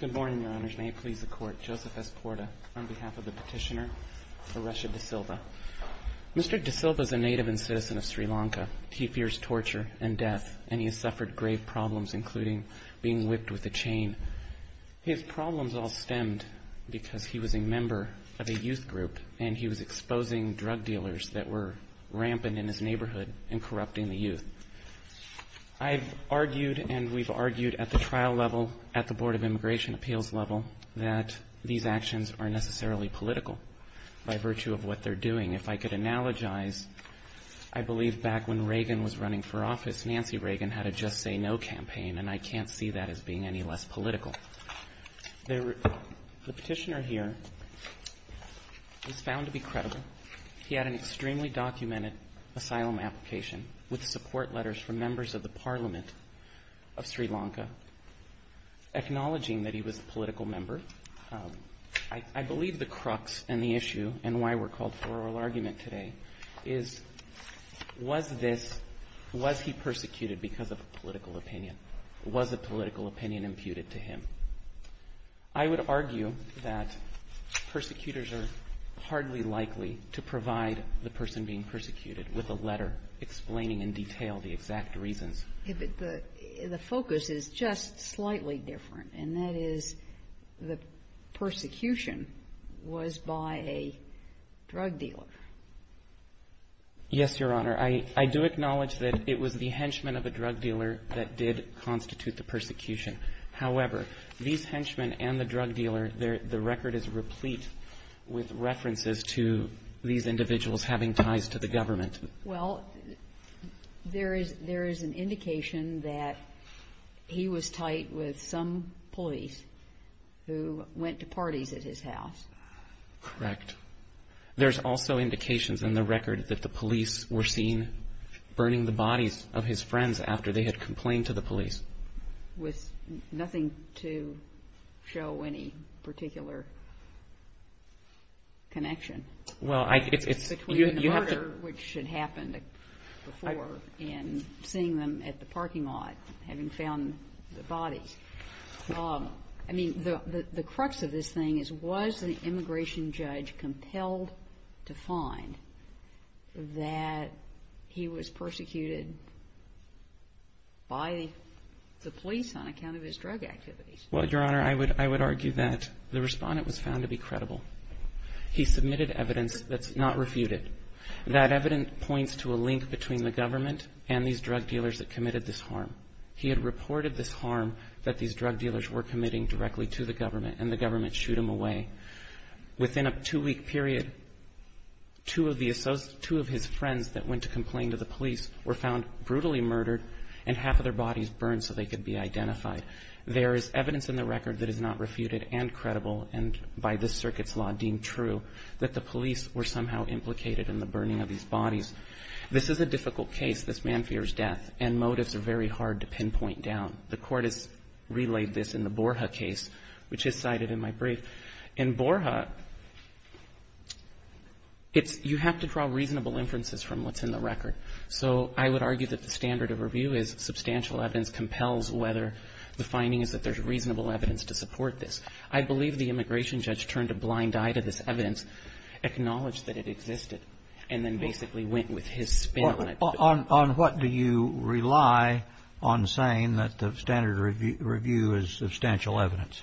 Good morning, Your Honors. May it please the Court, Joseph S. Porta on behalf of the petitioner Aresha De Silva. Mr. De Silva is a native and citizen of Sri Lanka. He fears torture and death, and he has suffered grave problems, including being whipped with a chain. His problems all stemmed because he was a member of a youth group, and he was exposing drug dealers that were rampant in his neighborhood and corrupting the youth. I've argued and we've argued at the trial level, at the Board of Immigration Appeals level, that these actions are necessarily political by virtue of what they're doing. If I could analogize, I believe back when Reagan was running for office, Nancy Reagan had a Just Say No campaign, and I can't see that as being any less political. The petitioner here was found to be credible. He had an extremely documented asylum application with support letters from members of the Parliament of Sri Lanka, acknowledging that he was a political member. I believe the crux and the issue and why we're called for oral argument today is, was this, was he persecuted because of a political opinion? Was a political opinion imputed to him? I would argue that persecutors are hardly likely to provide the person being persecuted with a letter explaining in detail the exact reasons. The focus is just slightly different, and that is the persecution was by a drug dealer. Yes, Your Honor. I do acknowledge that it was the henchmen of a drug dealer that did constitute the persecution. However, these henchmen and the drug dealer, the record is replete with references to these individuals having ties to the government. Well, there is an indication that he was tied with some police who went to parties at his house. Correct. There's also indications in the record that the police were seen burning the bodies of his friends after they had complained to the police. With nothing to show any particular connection between the murder, which had happened before, and seeing them at the parking lot having found the bodies. I mean, the crux of this the police on account of his drug activities. Well, Your Honor, I would argue that the Respondent was found to be credible. He submitted evidence that's not refuted. That evidence points to a link between the government and these drug dealers that committed this harm. He had reported this harm that these drug dealers were committing directly to the government, and the government shooed him away. Within a two-week period, two of the associates — two of his friends that went to complain to the police were found brutally murdered, and half of their bodies burned so they could be identified. There is evidence in the record that is not refuted and credible, and by this circuit's law deemed true, that the police were somehow implicated in the burning of these bodies. This is a difficult case. This man fears death, and motives are very hard to pinpoint down. The Court has relayed this in the Borja case, which is cited in my brief. In Borja, it's — you have to draw reasonable inferences from what's in the record. So I would argue that the standard of review is substantial evidence compels whether the finding is that there's reasonable evidence to support this. I believe the immigration judge turned a blind eye to this evidence, acknowledged that it existed, and then basically went with his spin on it. On what do you rely on saying that the standard of review is substantial evidence?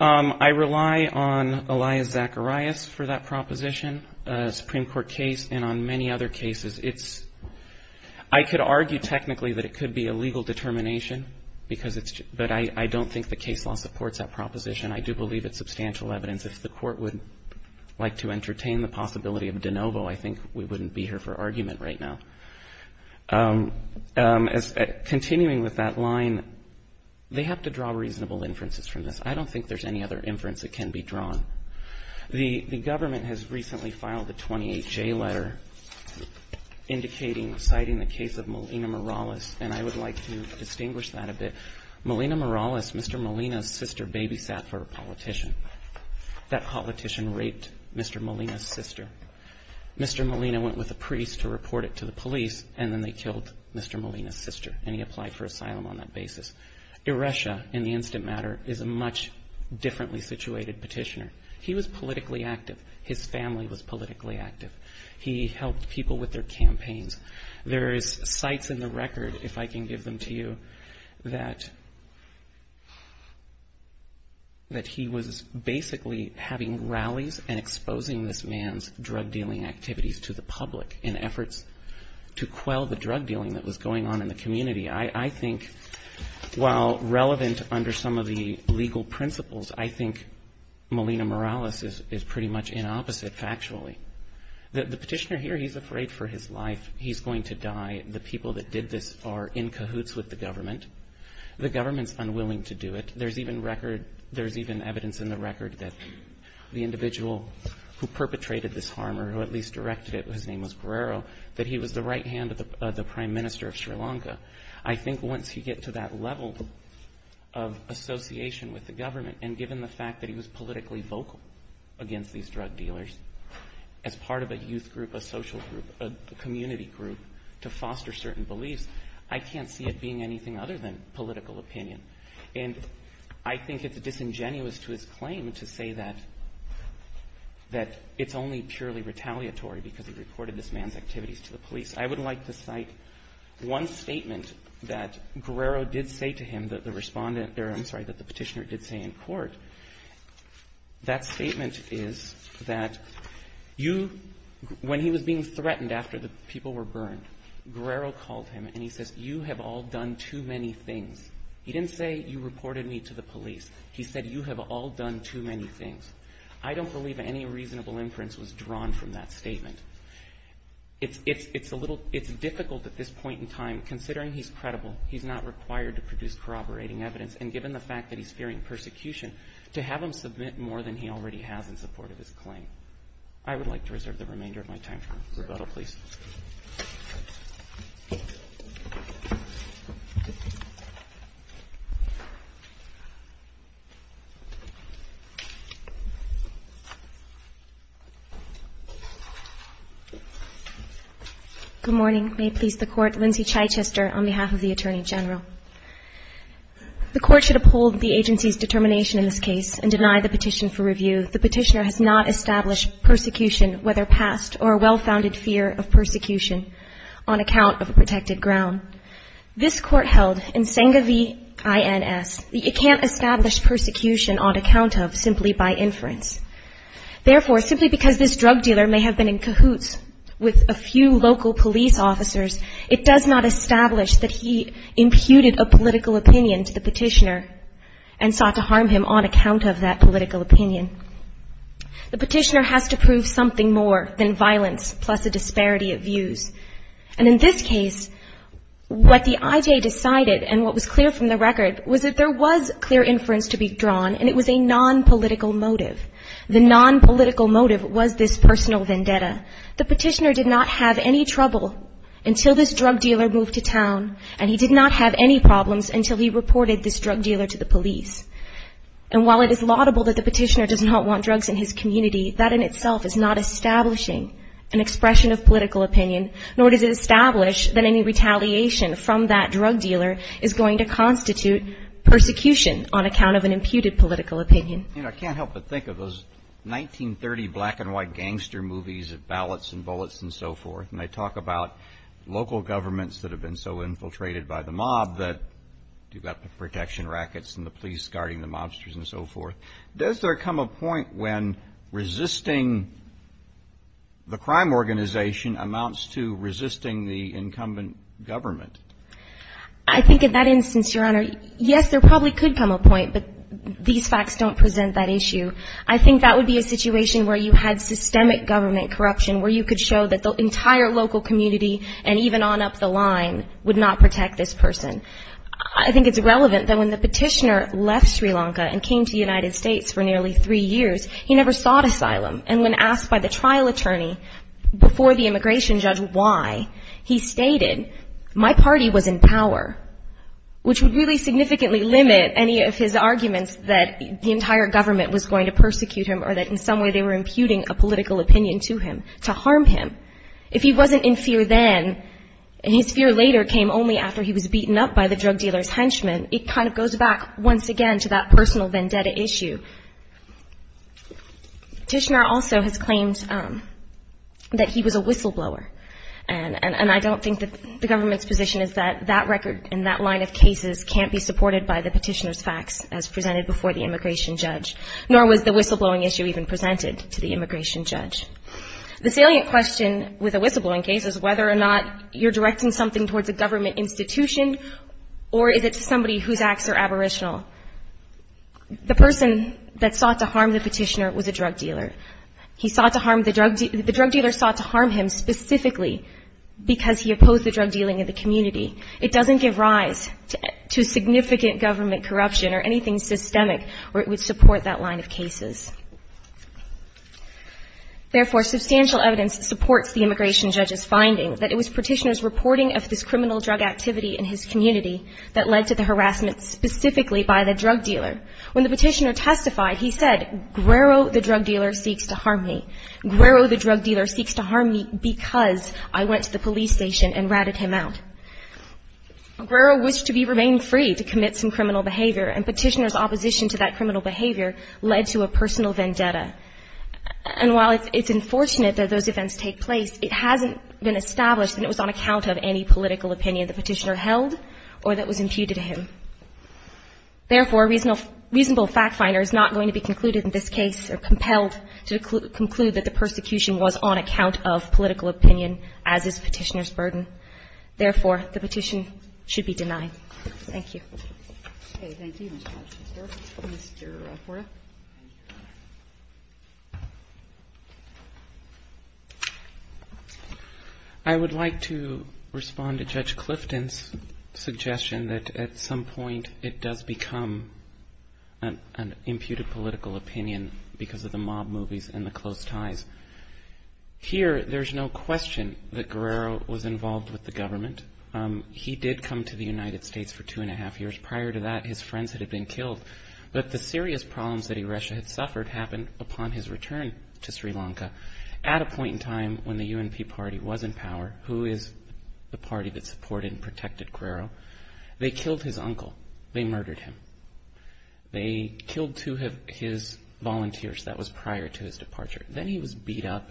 I rely on Elias Zacharias for that proposition, a Supreme Court case, and on many other cases. It's — I could argue technically that it could be a legal determination, because it's — but I don't think the case law supports that proposition. I do believe it's substantial evidence. If the Court would like to entertain the possibility of de novo, I think we wouldn't be here for argument right now. Continuing with that line, they have to draw reasonable inferences from this. I don't think there's any other inference that can be drawn. The government has recently filed a 28J letter indicating — citing the case of Molina Morales, and I would like to distinguish that a bit. Molina Morales, Mr. Molina's sister, babysat for a politician. That politician raped Mr. Molina's sister. Mr. Molina went with a priest to report it to the police, and then they killed Mr. Molina's sister, and he applied for asylum on that basis. Ereshia, in the instant matter, is a much differently situated petitioner. He was politically active. His family was politically active. He helped people with their campaigns. There's sites in the record, if I can give them to you, that — that he was basically having rallies and exposing this man's drug-dealing activities to the public in efforts to quell the drug-dealing that was going on in the community. I think, while relevant under some of the legal principles, I think Molina Morales is pretty much in opposite, factually. The petitioner here, he's afraid for his life. He's going to die. The people that did this are in cahoots with the government. The government's unwilling to do it. There's even record — there's even evidence in the record that the individual who perpetrated this harm, or who at least directed it — his name was Guerrero — that he was the right hand of the prime minister of Sri Lanka. I think once you get to that level of association with the government, and given the fact that he was politically vocal against these drug dealers as part of a youth group, a social group, a community group to foster certain beliefs, I can't see it being anything other than political opinion. And I think it's disingenuous to his claim to say that — that it's only purely retaliatory because he reported this man's activities to the police. I would like to cite one statement that Guerrero did say to him, that the respondent — I'm sorry, that the petitioner did say in court. That statement is that you — when he was being threatened after the people were burned, Guerrero called him and he says, you have all done too many things. He didn't say, you reported me to the police. He said, you have all done too many things. I don't believe any reasonable inference was drawn from that statement. It's difficult at this point in time, considering he's credible, he's not required to produce corroborating evidence, and given the fact that he's fearing persecution, to have him submit more than he already has in support of his claim. I would like to reserve the remainder of my time for rebuttal, please. Good morning. May it please the Court, Lindsay Chichester on behalf of the Attorney General. The Court should uphold the agency's determination in this case and deny the petition for review. The petitioner has not established persecution, whether past or a well-founded fear of persecution, on account of a protected ground. This Court held in Senga v. INS that it can't establish persecution on account of, simply by inference. Therefore, simply because this drug dealer may have been in cahoots with a few local police officers, it does not establish that he imputed a political opinion to the petitioner and sought to harm him on account of that political opinion. The petitioner has to prove something more than violence, plus a disparity of views. And in this case, what the IJ decided, and what was clear from the record, was that there was clear inference to be drawn, and it was a non-political motive. The non-political motive was this personal vendetta. The petitioner did not have any trouble until this drug dealer moved to town, and he did not have any problems until he reported this drug dealer to the police. And while it is laudable that the petitioner does not want drugs in his community, that in itself is not establishing an expression of political opinion, nor does it establish that any retaliation from that drug dealer is going to constitute persecution on account of an imputed political opinion. I can't help but think of those 1930 black and white gangster movies of ballots and bullets and so forth, and they talk about local governments that have been so infiltrated by the mob that you've got the protection rackets and the police guarding the mobsters and so forth. Does there come a point when resisting the crime organization amounts to resisting the incumbent government? I think in that instance, Your Honor, yes, there probably could come a point, but these facts don't present that issue. I think that would be a situation where you had systemic government corruption, where you could show that the entire local community, and even on up the line, would not protect this person. I think it's relevant that when the petitioner left Sri Lanka and came to the United States for nearly three years, he never sought asylum. And when asked by the trial attorney before the immigration judge why, he stated, my party was in power, which would really significantly limit any of his arguments that the entire government was going to persecute him or that in some way they were imputing a political opinion to him, to harm him. If he wasn't in fear then, and his fear later came only after he was beaten up by the drug dealer's henchman, it kind of goes back once again to that personal vendetta issue. Petitioner also has claimed that he was a whistleblower, and I don't think that the government's position is that that record and that line of cases can't be supported by the petitioner's facts as presented before the immigration judge, nor was the whistleblowing issue even presented to the immigration judge. The salient question with a whistleblowing case is whether or not you're directing something towards a government institution, or is it to somebody whose acts are aboriginal. The person that sought to harm the petitioner was a drug dealer. He sought to harm the drug dealer, the drug dealer sought to harm him specifically because he opposed the drug dealing in the community. It doesn't give rise to significant government corruption or anything systemic where it would support that line of cases. Therefore, substantial evidence supports the immigration judge's finding that it was petitioner's reporting of this criminal drug activity in his community that led to the harassment specifically by the drug dealer. When the petitioner testified, he said, Guerro, the drug dealer, seeks to harm me. Guerro, the drug dealer, seeks to harm me because I went to the police station and ratted him out. Guerro wished to remain free to commit some criminal behavior, and petitioner's opposition to that criminal behavior led to a personal vendetta. And while it's unfortunate that those events take place, it hasn't been established that it was on account of any political opinion the petitioner held or that was imputed to him. Therefore, a reasonable fact finder is not going to be concluded in this case or compelled to conclude that the persecution was on account of political opinion as is petitioner's burden. Therefore, the petition should be denied. Thank you. Okay. Thank you, Mr. Judge. Mr. Forda? I would like to respond to Judge Clifton's suggestion that at some point it does become an imputed political opinion because of the mob movies and the close ties. Here there's no question that Guerro was involved with the government. He did come to the United States for two and a half years. Prior to that, his friends had been killed. But the serious problems that Iresha had suffered happened upon his return to Sri Lanka. At a point in time when the UNP party was in power, who is the party that supported and protected Guerro, they killed his uncle. They murdered him. They killed two of his volunteers. That was prior to his departure. Then he was beat up,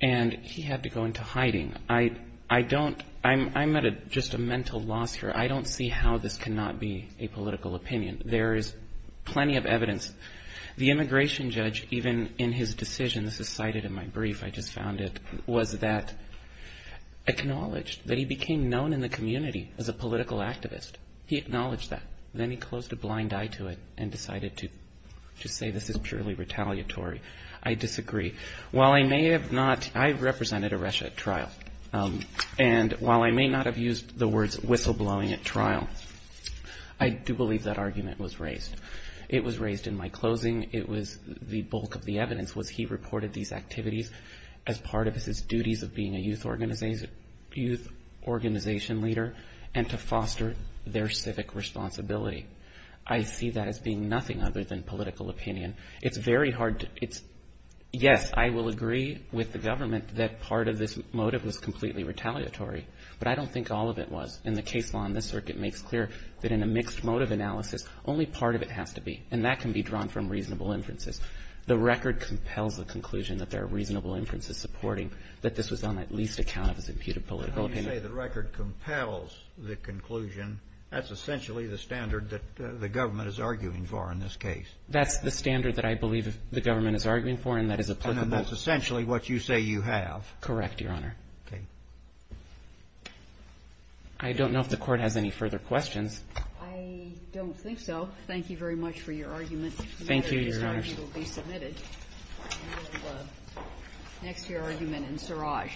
and he had to go into hiding. I don't, I'm at just a mental loss here. I don't see how this cannot be a political opinion. There is plenty of evidence. The immigration judge, even in his decision, this is cited in my brief, I just found it, was that, acknowledged that he became known in the community as a political activist. He acknowledged that. Then he closed a blind eye to it and decided to say this is purely retaliatory. I disagree. While I may have not, I represented Iresha at trial, and while I may not have used the words whistleblowing at trial, I do believe that argument was raised. It was raised in my closing. It was the bulk of the evidence was he reported these activities as part of his duties of being a youth organization leader and to foster their civic responsibility. I see that as being nothing other than political opinion. It's very hard to, it's, yes, I will agree with the government that part of this motive was completely retaliatory, but I don't think all of it was. And the case law in this circuit makes clear that in a mixed motive analysis, only part of it has to be, and that can be drawn from reasonable inferences. The record compels the conclusion that there are reasonable inferences supporting that this was on at least account of his imputed political opinion. How do you say the record compels the conclusion, that's essentially the standard that the government is arguing for in this case? That's the standard that I believe the government is arguing for, and that is applicable. And that's essentially what you say you have. Correct, Your Honor. Okay. I don't know if the Court has any further questions. I don't think so. Thank you very much for your argument. Thank you, Your Honor. The matter of this charge will be submitted. I will next hear argument in Siraj.